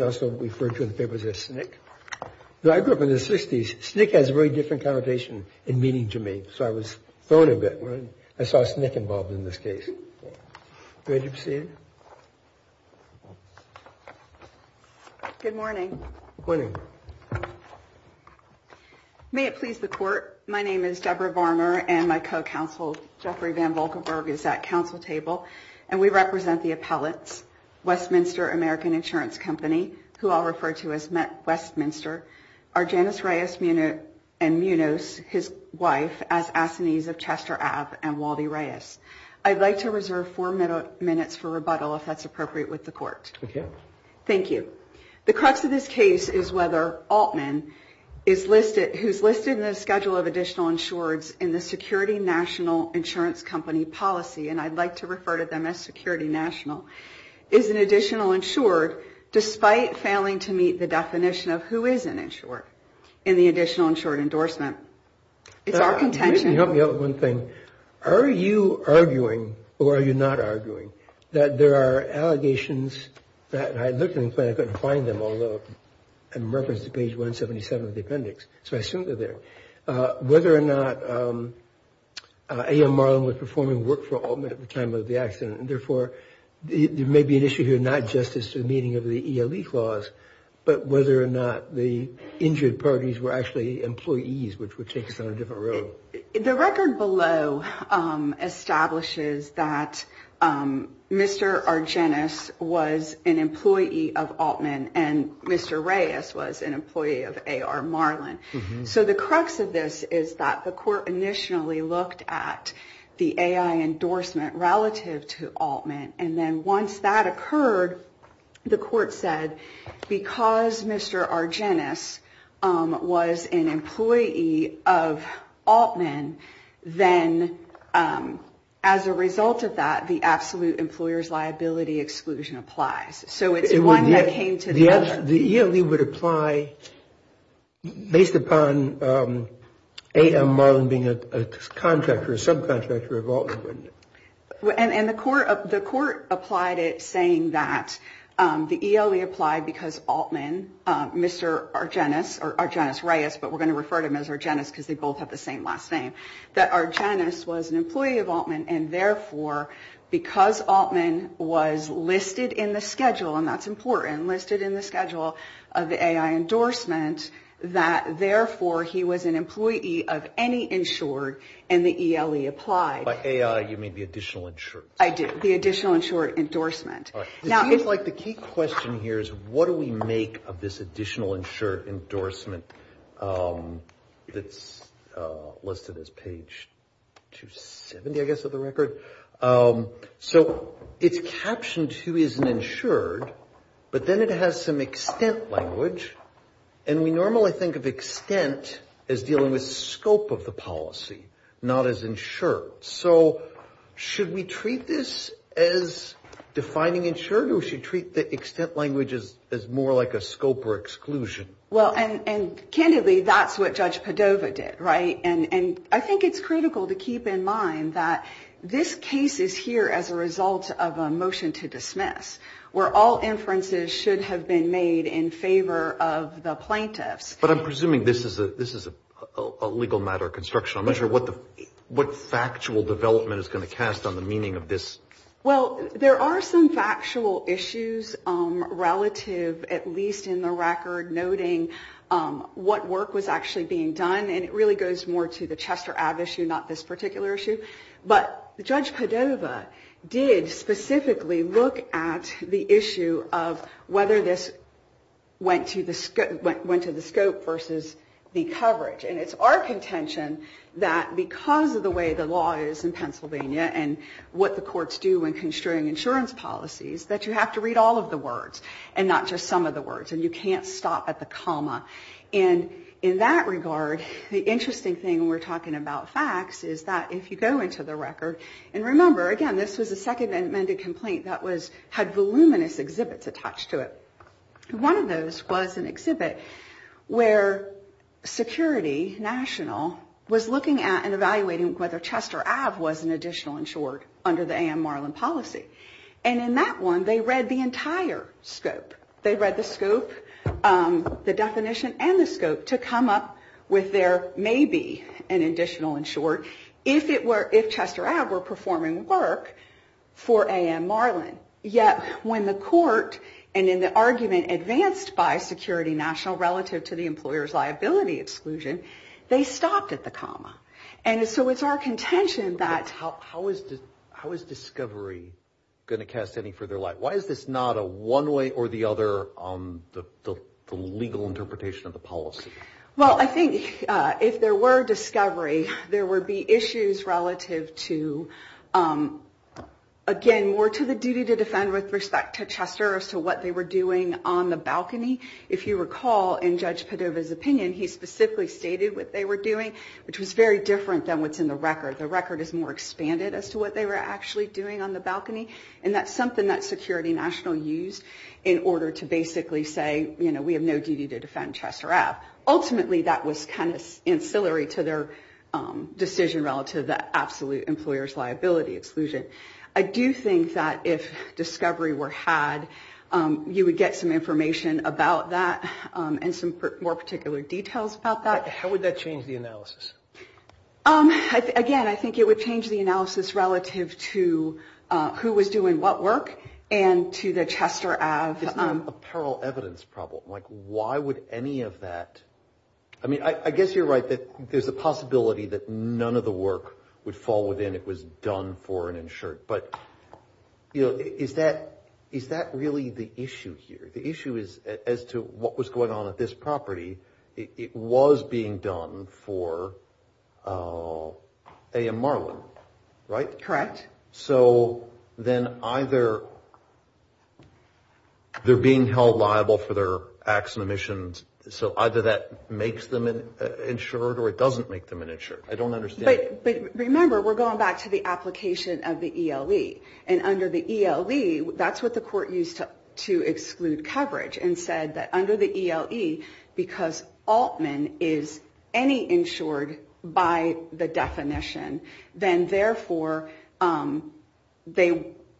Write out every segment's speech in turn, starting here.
also referred to in the papers as SNCC. Though I grew up in the 60s, SNCC has a very different connotation in meaning to me, so I was thrown a bit when I saw SNCC involved in this case. Good morning. May it please the Court, my name is Deborah Varmer and my co-counsel Jeffrey Van Volkenberg is at council table and we represent the appellates, Westminster American Insurance Company, who I'll refer to as Westminster, are Janice Reyes and Munoz, his wife, as assinees of Chester Abb and Wally Reyes. I'd like to reserve four minutes for rebuttal if that's appropriate with the Court. Thank you. The crux of this case is whether Altman, who's listed in the schedule of additional insureds in the Security National Insurance Company policy, and I'd like to refer to them as Security National, is an additional insured despite failing to meet the definition of who is an insured in the additional insured endorsement. It's our contention. The record below establishes that Mr. Argenis was an employee of Altman and Mr. Reyes was an employee of A.R. Marlin. So the crux of this is that the Court initially looked at the A.I. endorsement relative to Altman and then once that occurred, the Court said because Mr. Argenis was an employee of Altman, then as a result of that, the absolute employer's liability exclusion applies. The ELE would apply based upon A.M. Marlin being a contractor, a subcontractor of Altman, wouldn't it? And the Court applied it saying that the ELE applied because Altman, Mr. Argenis, or Argenis-Reyes, but we're going to refer to him as Argenis because they both have the same last name, that Argenis was an employee of Altman and therefore because Altman was listed in the schedule, and that's important, listed in the schedule of the A.I. endorsement, that therefore he was an employee of any insured and the ELE applied. By A.I. you mean the additional insured? I do. The additional insured endorsement. All right. It seems like the key question here is what do we make of this additional insured endorsement that's listed as page 270, I guess, of the record? So it's captioned who is an insured, but then it has some extent language, and we normally think of extent as dealing with scope of the policy, not as insured. So should we treat this as defining insured or should we treat the extent language as more like a scope or exclusion? Well, and candidly, that's what Judge Padova did, right? And I think it's critical to keep in mind that this case is here as a result of a motion to dismiss where all inferences should have been made in favor of the plaintiffs. But I'm presuming this is a legal matter of construction. I'm not sure what factual development is going to cast on the meaning of this. Well, there are some factual issues relative, at least in the record, noting what work was actually being done. And it really goes more to the Chester Ave issue, not this particular issue. But Judge Padova did specifically look at the issue of whether this went to the scope versus the coverage. And it's our contention that because of the way the law is in Pennsylvania and what the courts do in construing insurance policies, that you have to read all of the words and not just some of the words. And you can't stop at the comma. And in that regard, the interesting thing when we're talking about facts is that if you go into the record, and remember, again, this was a second amended complaint that had voluminous exhibits attached to it. One of those was an exhibit where Security National was looking at and evaluating whether Chester Ave was an additional insured under the A.M. Marlin policy. And in that one, they read the entire scope. They read the scope, the definition, and the scope to come up with there may be an additional insured if Chester Ave were performing work for A.M. Marlin. Yet when the court, and in the argument advanced by Security National relative to the employer's liability exclusion, they stopped at the comma. And so it's our contention that... How is discovery going to cast any further light? Why is this not a one way or the other on the legal interpretation of the policy? Well, I think if there were discovery, there would be issues relative to, again, more to the duty to defend with respect to Chester as to what they were doing on the balcony. If you recall, in Judge Padova's opinion, he specifically stated what they were doing, which was very different than what's in the record. The record is more expanded as to what they were actually doing on the balcony. And that's something that Security National used in order to basically say, you know, we have no duty to defend Chester Ave. Ultimately, that was kind of ancillary to their decision relative to the absolute employer's liability exclusion. I do think that if discovery were had, you would get some information about that and some more particular details about that. How would that change the analysis? Again, I think it would change the analysis relative to who was doing what work and to the Chester Ave. Isn't that a parallel evidence problem? Like, why would any of that? I mean, I guess you're right that there's a possibility that none of the work would fall within. It was done for an insured. But, you know, is that is that really the issue here? The issue is as to what was going on at this property. It was being done for A.M. Marlin, right? Correct. So then either they're being held liable for their acts and omissions. So either that makes them insured or it doesn't make them an insured. I don't understand. But remember, we're going back to the application of the ELE. And under the ELE, that's what the court used to exclude coverage and said that under the ELE, because Altman is any insured by the definition, then, therefore,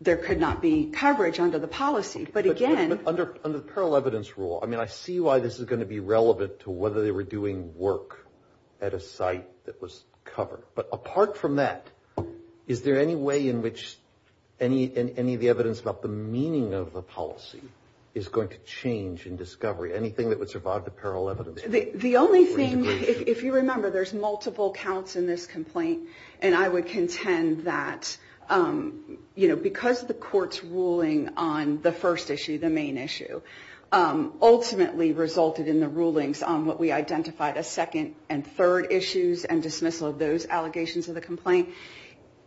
there could not be coverage under the policy. But again. Under the parallel evidence rule, I mean, I see why this is going to be relevant to whether they were doing work at a site that was covered. But apart from that, is there any way in which any of the evidence about the meaning of the policy is going to change in discovery? Anything that would survive the parallel evidence? The only thing, if you remember, there's multiple counts in this complaint. And I would contend that, you know, because the court's ruling on the first issue, the main issue, ultimately resulted in the rulings on what we identified as second and third issues and dismissal of those allegations of the complaint.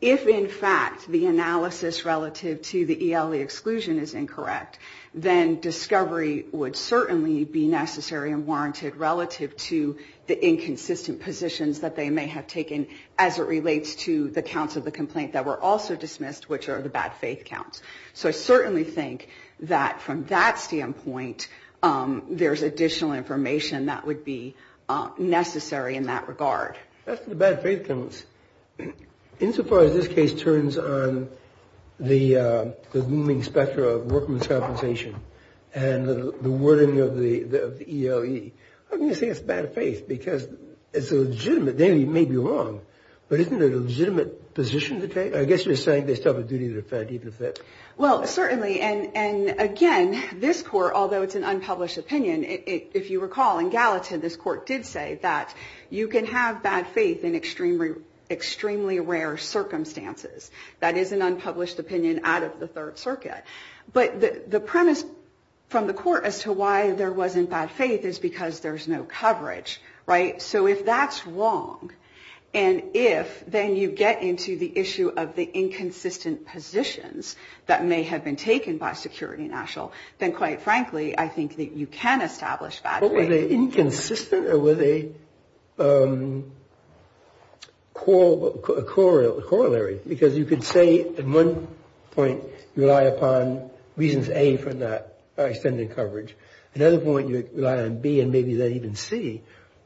If, in fact, the analysis relative to the ELE exclusion is incorrect, then discovery would certainly be necessary and warranted relative to the inconsistent positions that they may have taken as it relates to the counts of the complaint that were also dismissed, which are the bad faith counts. So I certainly think that from that standpoint, there's additional information that would be necessary in that regard. That's the bad faith counts. Insofar as this case turns on the looming spectra of workman's compensation and the wording of the ELE, I'm going to say it's bad faith because it's legitimate. They may be wrong, but isn't it a legitimate position to take? I guess you're saying they still have a duty to defend. Well, certainly. And again, this court, although it's an unpublished opinion, if you recall, in Gallatin, this court did say that you can have bad faith in extremely rare circumstances. That is an unpublished opinion out of the Third Circuit. But the premise from the court as to why there wasn't bad faith is because there's no coverage, right? So if that's wrong, and if then you get into the issue of the inconsistent positions that may have been taken by Security National, then quite frankly, I think that you can establish bad faith. But were they inconsistent or were they corollary? Because you could say at one point rely upon reasons A for not extending coverage. At another point, you rely on B and maybe even C.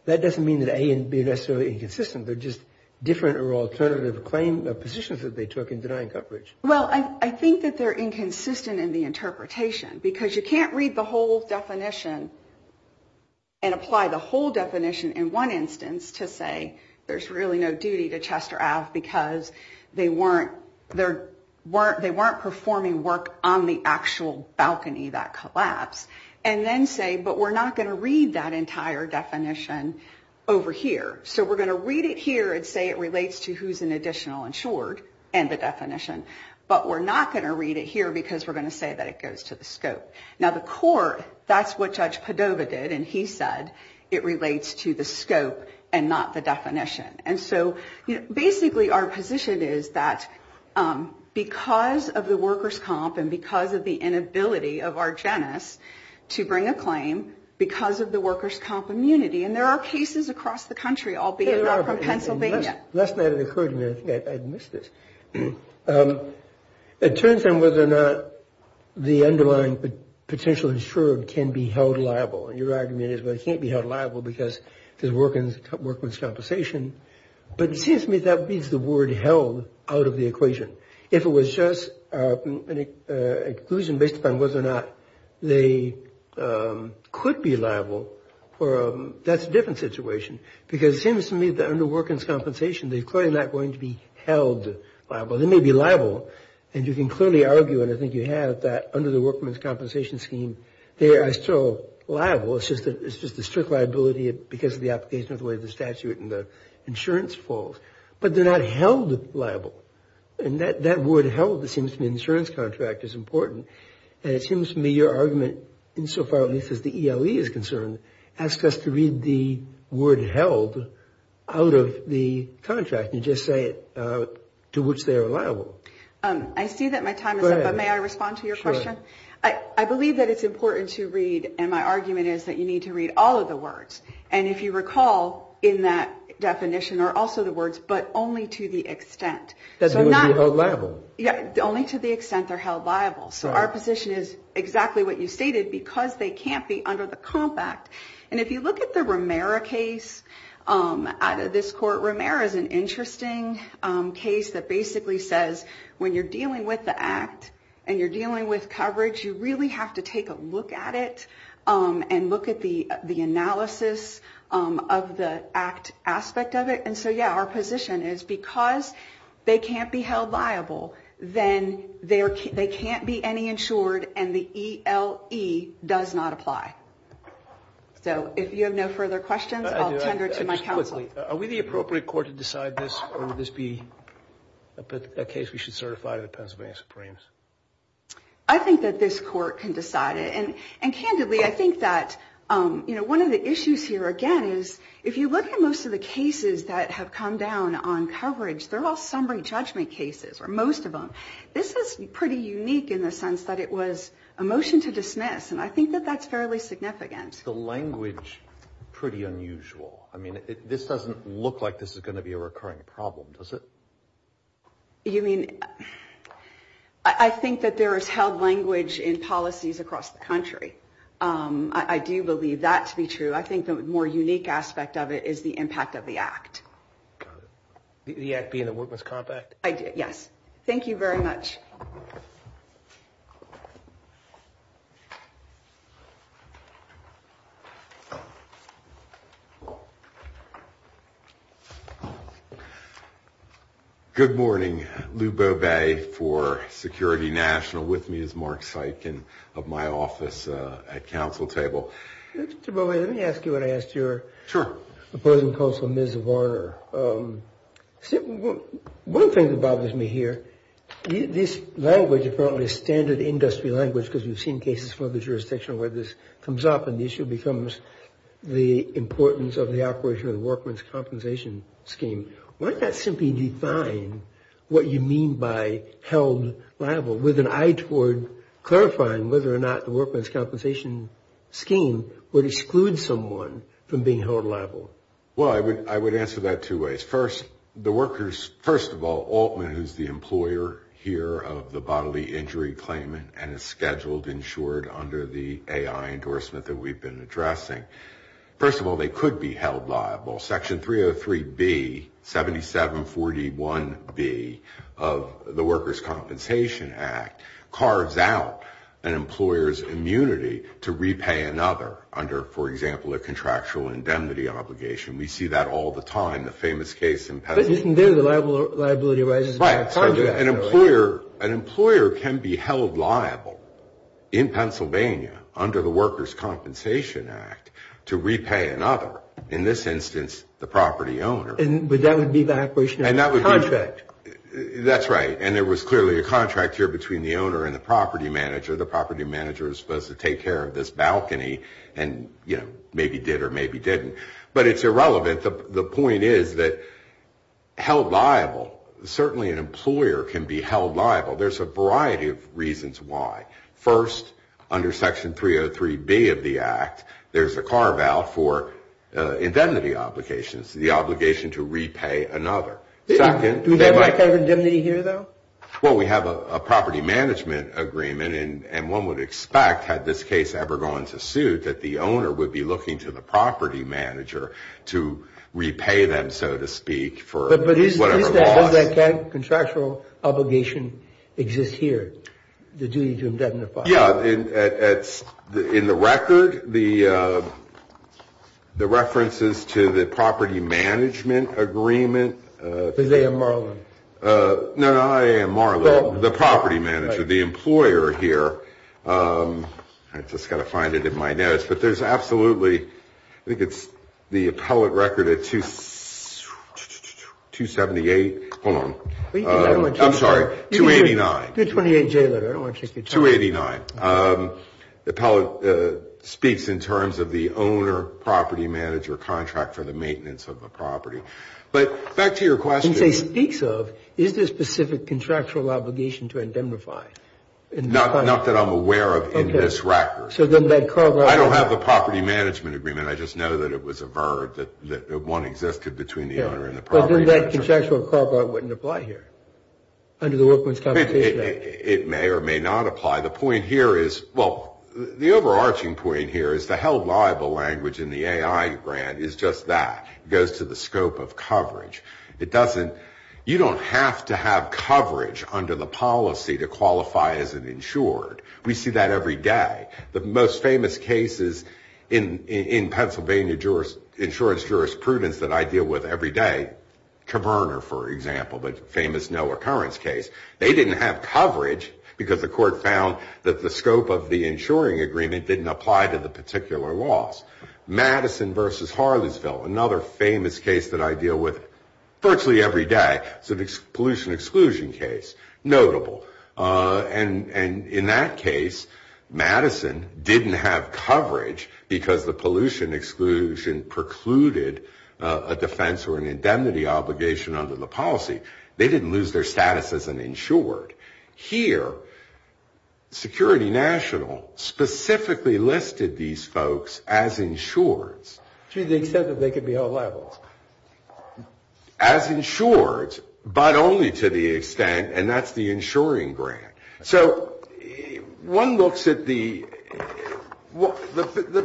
That doesn't mean that A and B are necessarily inconsistent. They're just different or alternative claim positions that they took in denying coverage. Well, I think that they're inconsistent in the interpretation because you can't read the whole definition and apply the whole definition in one instance to say there's really no duty to Chester Ave. because they weren't performing work on the actual balcony that collapsed. And then say, but we're not going to read that entire definition over here. So we're going to read it here and say it relates to who's an additional insured and the definition. But we're not going to read it here because we're going to say that it goes to the scope. Now, the court, that's what Judge Padova did, and he said it relates to the scope and not the definition. And so basically our position is that because of the workers' comp and because of the inability of our genus to bring a claim because of the workers' comp immunity, and there are cases across the country, albeit not from Pennsylvania. Last night it occurred to me, I think I missed this, it turns out whether or not the underlying potential insured can be held liable. And your argument is, well, it can't be held liable because there's workman's compensation. But it seems to me that reads the word held out of the equation. If it was just an exclusion based upon whether or not they could be liable, that's a different situation. Because it seems to me that under workman's compensation, they're clearly not going to be held liable. They may be liable, and you can clearly argue, and I think you have, that under the workman's compensation scheme, they are still liable. It's just a strict liability because of the application of the way the statute and the insurance falls. But they're not held liable. And that word held, it seems to me, in the insurance contract is important. And it seems to me your argument, insofar at least as the ELE is concerned, asks us to read the word held out of the contract and just say to which they are liable. I see that my time is up, but may I respond to your question? I believe that it's important to read, and my argument is that you need to read all of the words. And if you recall, in that definition are also the words, but only to the extent. That they would be held liable. Yeah, only to the extent they're held liable. So our position is exactly what you stated, because they can't be under the compact. And if you look at the Romero case out of this court, Romero is an interesting case that basically says when you're dealing with the act, and you're dealing with coverage, you really have to take a look at it and look at the analysis of the act aspect of it. And so, yeah, our position is because they can't be held liable, then they can't be any insured and the ELE does not apply. So if you have no further questions, I'll tender to my counsel. Lastly, are we the appropriate court to decide this, or would this be a case we should certify to the Pennsylvania Supremes? I think that this court can decide it. And candidly, I think that one of the issues here, again, is if you look at most of the cases that have come down on coverage, they're all summary judgment cases, or most of them. This is pretty unique in the sense that it was a motion to dismiss, and I think that that's fairly significant. The language is pretty unusual. I mean, this doesn't look like this is going to be a recurring problem, does it? I think that there is held language in policies across the country. I do believe that to be true. I think the more unique aspect of it is the impact of the act. The act being the Witness Compact? Yes. Thank you very much. Good morning. Lou Bobet for Security National with me is Mark Sikin of my office at counsel table. Mr. Bobet, let me ask you what I asked your opposing counsel, Ms. Varner. One thing that bothers me here, this language, apparently standard industry language because we've seen cases from other jurisdictions where this comes up and the issue becomes the importance of the operation of the Workman's Compensation Scheme. Why not simply define what you mean by held liable with an eye toward clarifying whether or not the Workman's Compensation Scheme would exclude someone from being held liable? Well, I would answer that two ways. First, the workers, first of all, Altman is the employer here of the bodily injury claimant and is scheduled, insured under the AI endorsement that we've been addressing. First of all, they could be held liable. Section 303B, 7741B of the Workers' Compensation Act carves out an employer's immunity to repay another under, for example, a contractual indemnity obligation. We see that all the time. The famous case in Pennsylvania. But isn't there the liability arises by contract? Right. An employer can be held liable in Pennsylvania under the Workers' Compensation Act to repay another, in this instance, the property owner. But that would be the operation of the contract. That's right. And there was clearly a contract here between the owner and the property manager. The property manager was supposed to take care of this balcony and, you know, maybe did or maybe didn't. But it's irrelevant. The point is that held liable, certainly an employer can be held liable. There's a variety of reasons why. First, under Section 303B of the Act, there's a carve-out for indemnity obligations, the obligation to repay another. Second, they might. Do we have a covered indemnity here, though? Well, we have a property management agreement. And one would expect, had this case ever gone to suit, that the owner would be looking to the property manager to repay them, so to speak, for whatever loss. But does that contractual obligation exist here, the duty to indemnify? Yeah. In the record, the references to the property management agreement. Because they are marlin. No, no, I am marlin, the property manager, the employer here. I've just got to find it in my notes. But there's absolutely, I think it's the appellate record at 278. Hold on. I'm sorry, 289. The 28J letter. I don't want to take your time. 289. The appellate speaks in terms of the owner-property manager contract for the maintenance of the property. But back to your question. It speaks of, is there a specific contractual obligation to indemnify? Not that I'm aware of in this record. I don't have a property management agreement. I just know that it was averred, that one existed between the owner and the property manager. But then that contractual carve-out wouldn't apply here under the Workman's Compensation Act. It may or may not apply. The point here is, well, the overarching point here is the held liable language in the AI grant is just that. It goes to the scope of coverage. You don't have to have coverage under the policy to qualify as an insured. We see that every day. The most famous cases in Pennsylvania insurance jurisprudence that I deal with every day, Cabrner, for example, the famous no-occurrence case, they didn't have coverage because the court found that the scope of the insuring agreement didn't apply to the particular laws. Madison v. Harlisville, another famous case that I deal with virtually every day, it's a pollution exclusion case, notable. And in that case, Madison didn't have coverage because the pollution exclusion precluded a defense or an indemnity obligation under the policy. They didn't lose their status as an insured. Here, Security National specifically listed these folks as insured. To the extent that they could be held liable. As insured, but only to the extent, and that's the insuring grant. So one looks at the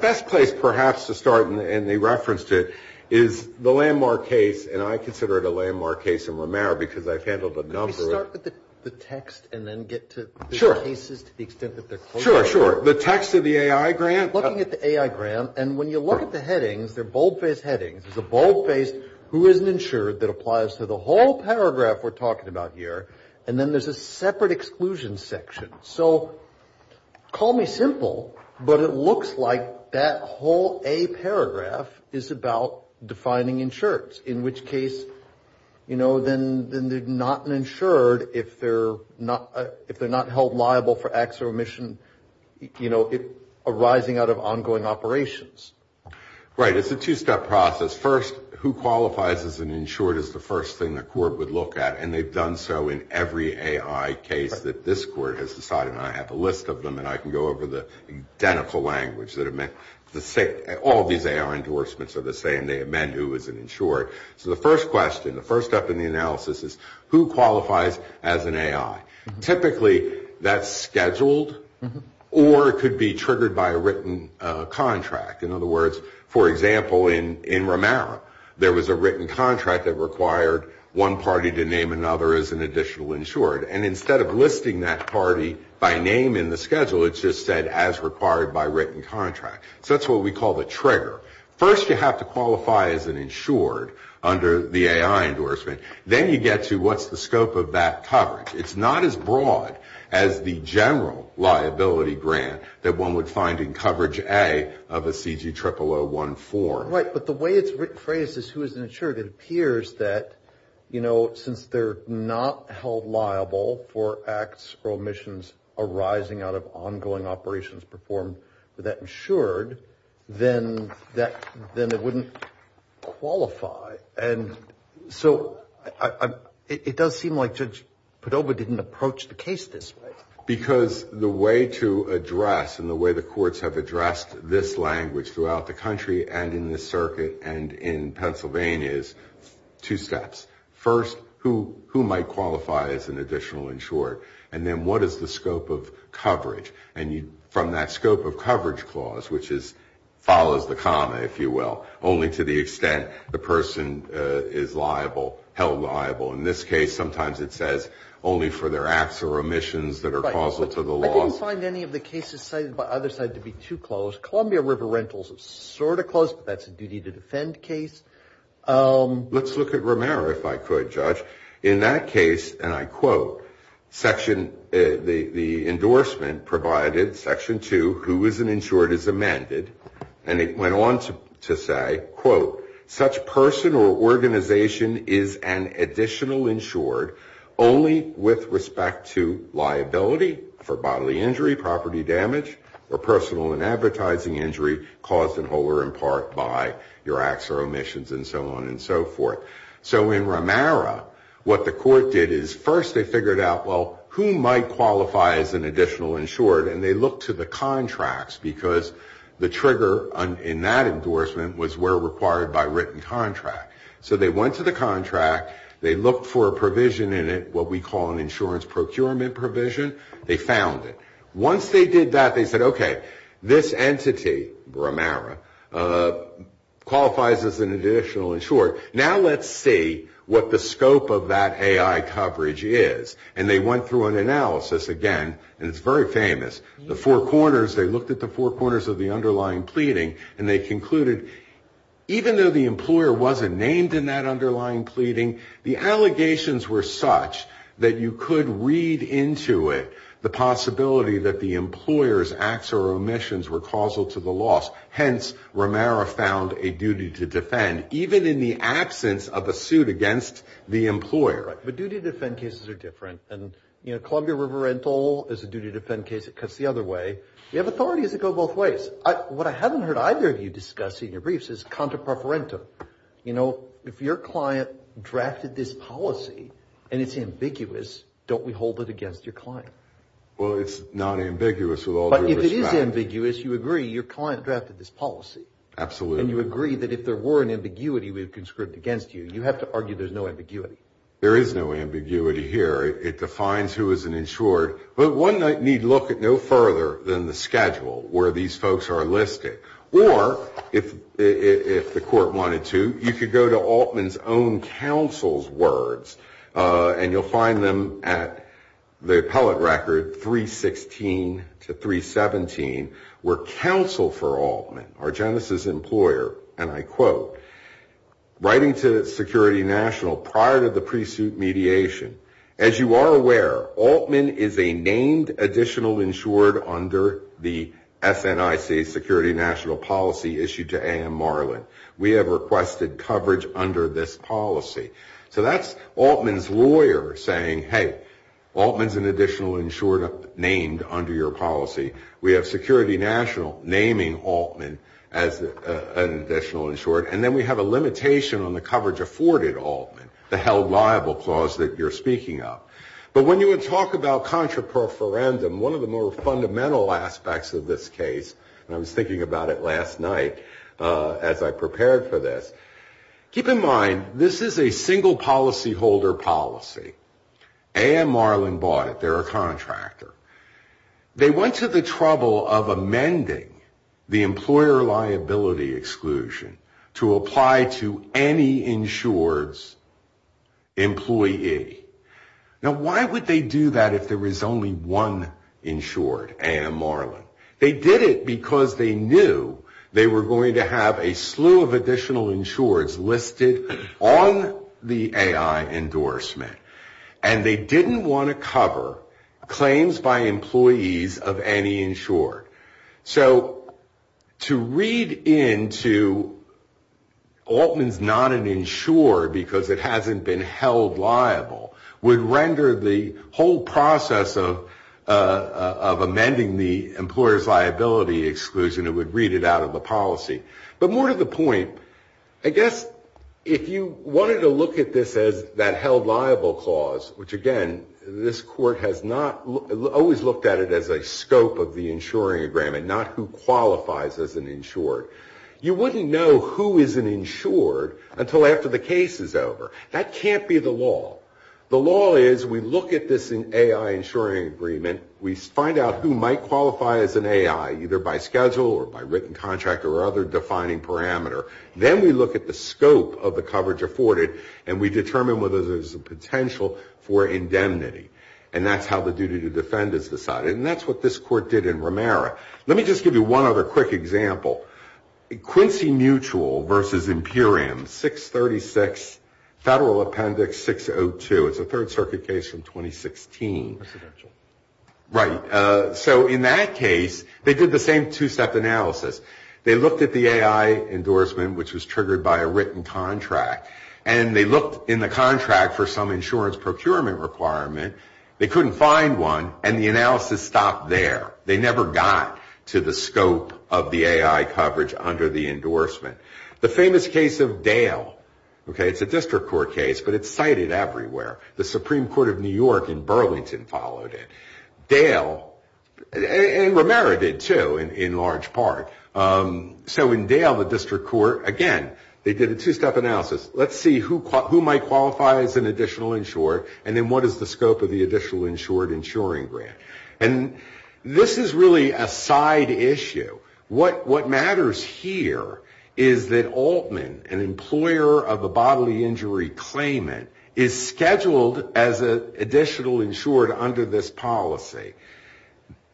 best place perhaps to start, and they referenced it, is the landmark case, and I consider it a landmark case in Romero because I've handled a number of it. Let's start with the text and then get to the cases to the extent that they're close. Sure, sure. The text of the AI grant. Looking at the AI grant, and when you look at the headings, they're boldface headings. There's a boldface, who isn't insured, that applies to the whole paragraph we're talking about here, and then there's a separate exclusion section. So call me simple, but it looks like that whole A paragraph is about defining insured, in which case, you know, then they're not insured if they're not held liable for acts of omission, you know, arising out of ongoing operations. Right. It's a two-step process. First, who qualifies as an insured is the first thing the court would look at, and they've done so in every AI case that this court has decided on. I have a list of them, and I can go over the identical language. All these AI endorsements are the same. They amend who is an insured. So the first question, the first step in the analysis is who qualifies as an AI. Typically, that's scheduled or could be triggered by a written contract. In other words, for example, in Romero, there was a written contract that required one party to name another as an additional insured, and instead of listing that party by name in the schedule, it just said as required by written contract. So that's what we call the trigger. First, you have to qualify as an insured under the AI endorsement. Then you get to what's the scope of that coverage. It's not as broad as the general liability grant that one would find in coverage A of a CG00014. Right, but the way it's phrased is who is an insured, it appears that, you know, since they're not held liable for acts or omissions arising out of ongoing operations performed for that insured, then it wouldn't qualify. And so it does seem like Judge Podoba didn't approach the case this way. Because the way to address and the way the courts have addressed this language throughout the country and in this circuit and in Pennsylvania is two steps. First, who might qualify as an additional insured? And then what is the scope of coverage? And from that scope of coverage clause, which follows the comma, if you will, only to the extent the person is liable, held liable. In this case, sometimes it says only for their acts or omissions that are causal to the law. I didn't find any of the cases cited by others to be too close. Columbia River Rentals is sort of close, but that's a duty to defend case. Let's look at Romero, if I could, Judge. In that case, and I quote, the endorsement provided Section 2, who is an insured, is amended. And it went on to say, quote, such person or organization is an additional insured only with respect to liability for bodily injury, property damage, or personal and advertising injury caused in whole or in part by your acts or omissions and so on and so forth. So in Romero, what the court did is first they figured out, well, who might qualify as an additional insured? And they looked to the contracts because the trigger in that endorsement was where required by written contract. So they went to the contract. They looked for a provision in it, what we call an insurance procurement provision. They found it. Once they did that, they said, okay, this entity, Romero, qualifies as an additional insured. Now let's see what the scope of that AI coverage is. And they went through an analysis again, and it's very famous. The four corners, they looked at the four corners of the underlying pleading, and they concluded even though the employer wasn't named in that underlying pleading, the allegations were such that you could read into it the possibility that the employer's acts or omissions were causal to the loss. Hence, Romero found a duty to defend, even in the absence of a suit against the employer. But duty to defend cases are different. And, you know, Columbia River Rental is a duty to defend case that cuts the other way. You have authorities that go both ways. What I haven't heard either of you discuss in your briefs is contra preferentum. You know, if your client drafted this policy and it's ambiguous, don't we hold it against your client? Well, it's not ambiguous with all due respect. But if it is ambiguous, you agree your client drafted this policy. Absolutely. And you agree that if there were an ambiguity, we'd conscript against you. You have to argue there's no ambiguity. There is no ambiguity here. It defines who is an insured. But one need look at no further than the schedule where these folks are listed. Or, if the court wanted to, you could go to Altman's own counsel's words. And you'll find them at the appellate record 316 to 317, where counsel for Altman, our Genesis employer, and I quote, writing to Security National prior to the pre-suit mediation, As you are aware, Altman is a named additional insured under the SNIC Security National policy issued to A.M. Marlin. We have requested coverage under this policy. So that's Altman's lawyer saying, hey, Altman's an additional insured named under your policy. We have Security National naming Altman as an additional insured. And then we have a limitation on the coverage afforded Altman, the held liable clause that you're speaking of. But when you would talk about contra preferendum, one of the more fundamental aspects of this case, and I was thinking about it last night as I prepared for this. Keep in mind, this is a single policyholder policy. A.M. Marlin bought it. They're a contractor. They went to the trouble of amending the employer liability exclusion to apply to any insured's employee. Now, why would they do that if there was only one insured, A.M. Marlin? They did it because they knew they were going to have a slew of additional insureds listed on the A.I. endorsement. And they didn't want to cover claims by employees of any insured. So to read into Altman's not an insured because it hasn't been held liable would render the whole process of amending the employer's liability exclusion, it would read it out of the policy. But more to the point, I guess if you wanted to look at this as that held liable clause, which, again, this court has not always looked at it as a scope of the insuring agreement, not who qualifies as an insured. You wouldn't know who is an insured until after the case is over. That can't be the law. The law is we look at this A.I. insuring agreement. We find out who might qualify as an A.I., either by schedule or by written contract or other defining parameter. Then we look at the scope of the coverage afforded and we determine whether there's a potential for indemnity. And that's how the duty to defend is decided. And that's what this court did in Romero. Let me just give you one other quick example. Quincy Mutual versus Imperium, 636 Federal Appendix 602. It's a Third Circuit case from 2016. Right. So in that case, they did the same two-step analysis. They looked at the A.I. endorsement, which was triggered by a written contract, and they looked in the contract for some insurance procurement requirement. They couldn't find one, and the analysis stopped there. They never got to the scope of the A.I. coverage under the endorsement. The famous case of Dale, okay, it's a district court case, but it's cited everywhere. The Supreme Court of New York in Burlington followed it. Dale, and Romero did, too, in large part. So in Dale, the district court, again, they did a two-step analysis. Let's see who might qualify as an additional insured, and then what is the scope of the additional insured insuring grant. And this is really a side issue. What matters here is that Altman, an employer of a bodily injury claimant, is scheduled as an additional insured under this policy.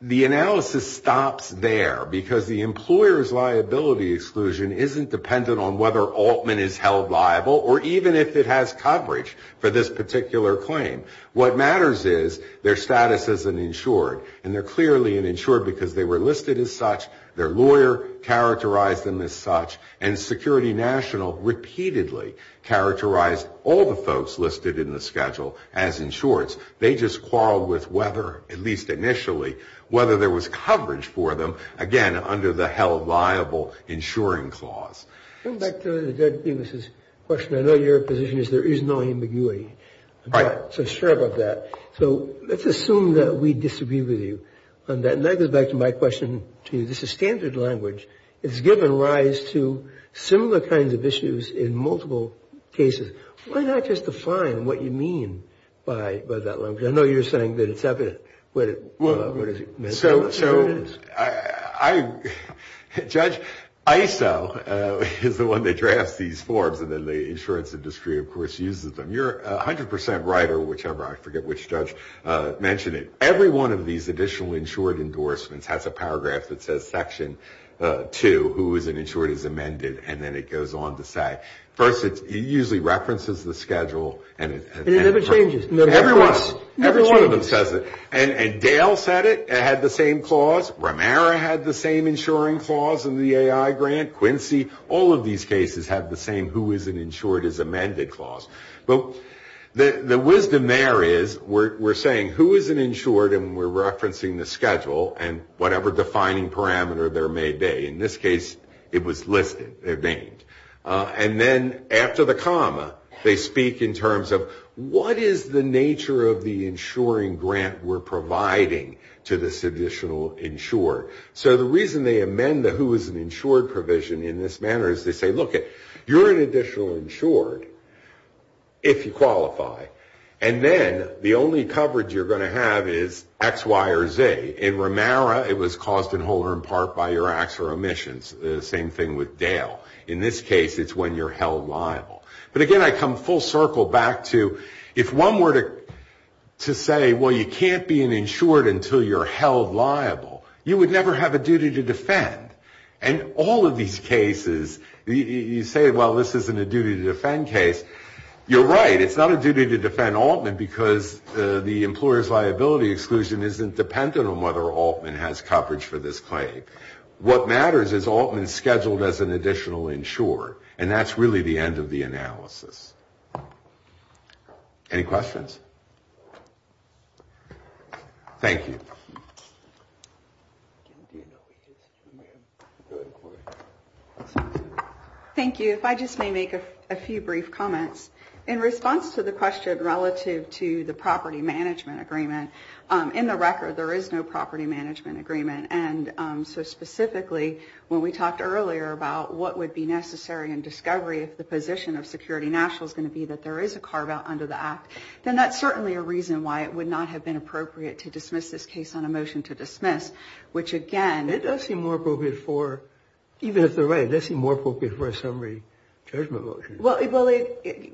The analysis stops there because the employer's liability exclusion isn't dependent on whether Altman is held liable or even if it has coverage for this particular claim. What matters is their status as an insured, and they're clearly an insured because they were listed as such, their lawyer characterized them as such, and Security National repeatedly characterized all the folks listed in the schedule as insureds. They just quarreled with whether, at least initially, whether there was coverage for them, again, under the held liable insuring clause. Going back to the dead penises question, I know your position is there is no ambiguity. Right. So sure about that. So let's assume that we disagree with you on that. And that goes back to my question to you. It's a standard language. It's given rise to similar kinds of issues in multiple cases. Why not just define what you mean by that language? I know you're saying that it's evident what it is. Judge, ISO is the one that drafts these forms, and then the insurance industry, of course, uses them. You're 100% right, or whichever, I forget which judge mentioned it. Every one of these additional insured endorsements has a paragraph that says Section 2, who is an insured as amended, and then it goes on to say. First, it usually references the schedule. And it never changes. Every one of them says it. And Dale said it, it had the same clause. Romero had the same insuring clause in the AI grant. Quincy, all of these cases have the same who is an insured as amended clause. The wisdom there is we're saying who is an insured, and we're referencing the schedule and whatever defining parameter there may be. In this case, it was listed. They're named. And then after the comma, they speak in terms of what is the nature of the insuring grant we're providing to this additional insured. So the reason they amend the who is an insured provision in this manner is they say, look, you're an additional insured if you qualify. And then the only coverage you're going to have is X, Y, or Z. In Romero, it was caused in whole or in part by your acts or omissions. The same thing with Dale. In this case, it's when you're held liable. But, again, I come full circle back to if one were to say, well, you can't be an insured until you're held liable, you would never have a duty to defend. And all of these cases, you say, well, this isn't a duty to defend case. You're right. It's not a duty to defend Altman because the employer's liability exclusion isn't dependent on whether Altman has coverage for this claim. What matters is Altman's scheduled as an additional insured, and that's really the end of the analysis. Any questions? Thank you. Thank you. If I just may make a few brief comments. In response to the question relative to the property management agreement, in the record, there is no property management agreement. And so specifically, when we talked earlier about what would be necessary in discovery if the position of Security National is going to be that there is a carveout under the act, then that's certainly a reason why it would not have been appropriate to dismiss this case on a motion to dismiss, which, again, It does seem more appropriate for, even if they're right, it does seem more appropriate for a summary judgment motion. Well,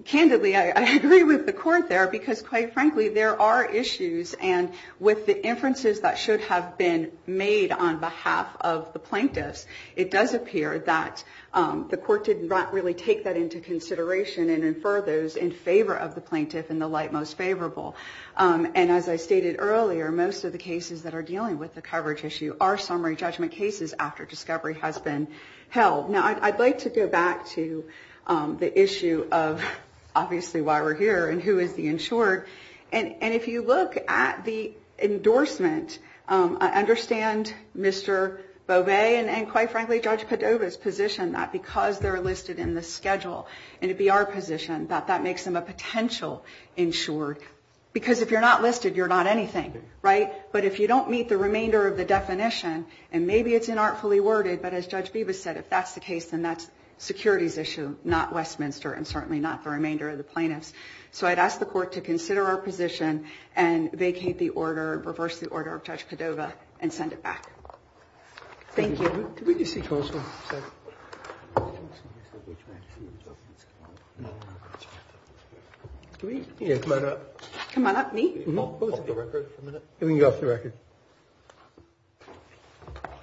candidly, I agree with the Court there because, quite frankly, there are issues. And with the inferences that should have been made on behalf of the plaintiffs, it does appear that the Court did not really take that into consideration and infer those in favor of the plaintiff in the light most favorable. And as I stated earlier, most of the cases that are dealing with the coverage issue are summary judgment cases after discovery has been held. Now, I'd like to go back to the issue of, obviously, why we're here and who is the insured. And if you look at the endorsement, I understand Mr. Beauvais and, quite frankly, Judge Padova's position that because they're listed in the schedule and it be our position that that makes them a potential insured. Because if you're not listed, you're not anything, right? But if you don't meet the remainder of the definition, and maybe it's inartfully worded, but as Judge Beavis said, if that's the case, then that's securities issue, not Westminster and certainly not the remainder of the plaintiffs. So I'd ask the Court to consider our position and vacate the order, reverse the order of Judge Padova, and send it back. Thank you. Can we just see counsel for a second? Can we come on up? Come on up, me? Can we go off the record for a minute? We can go off the record.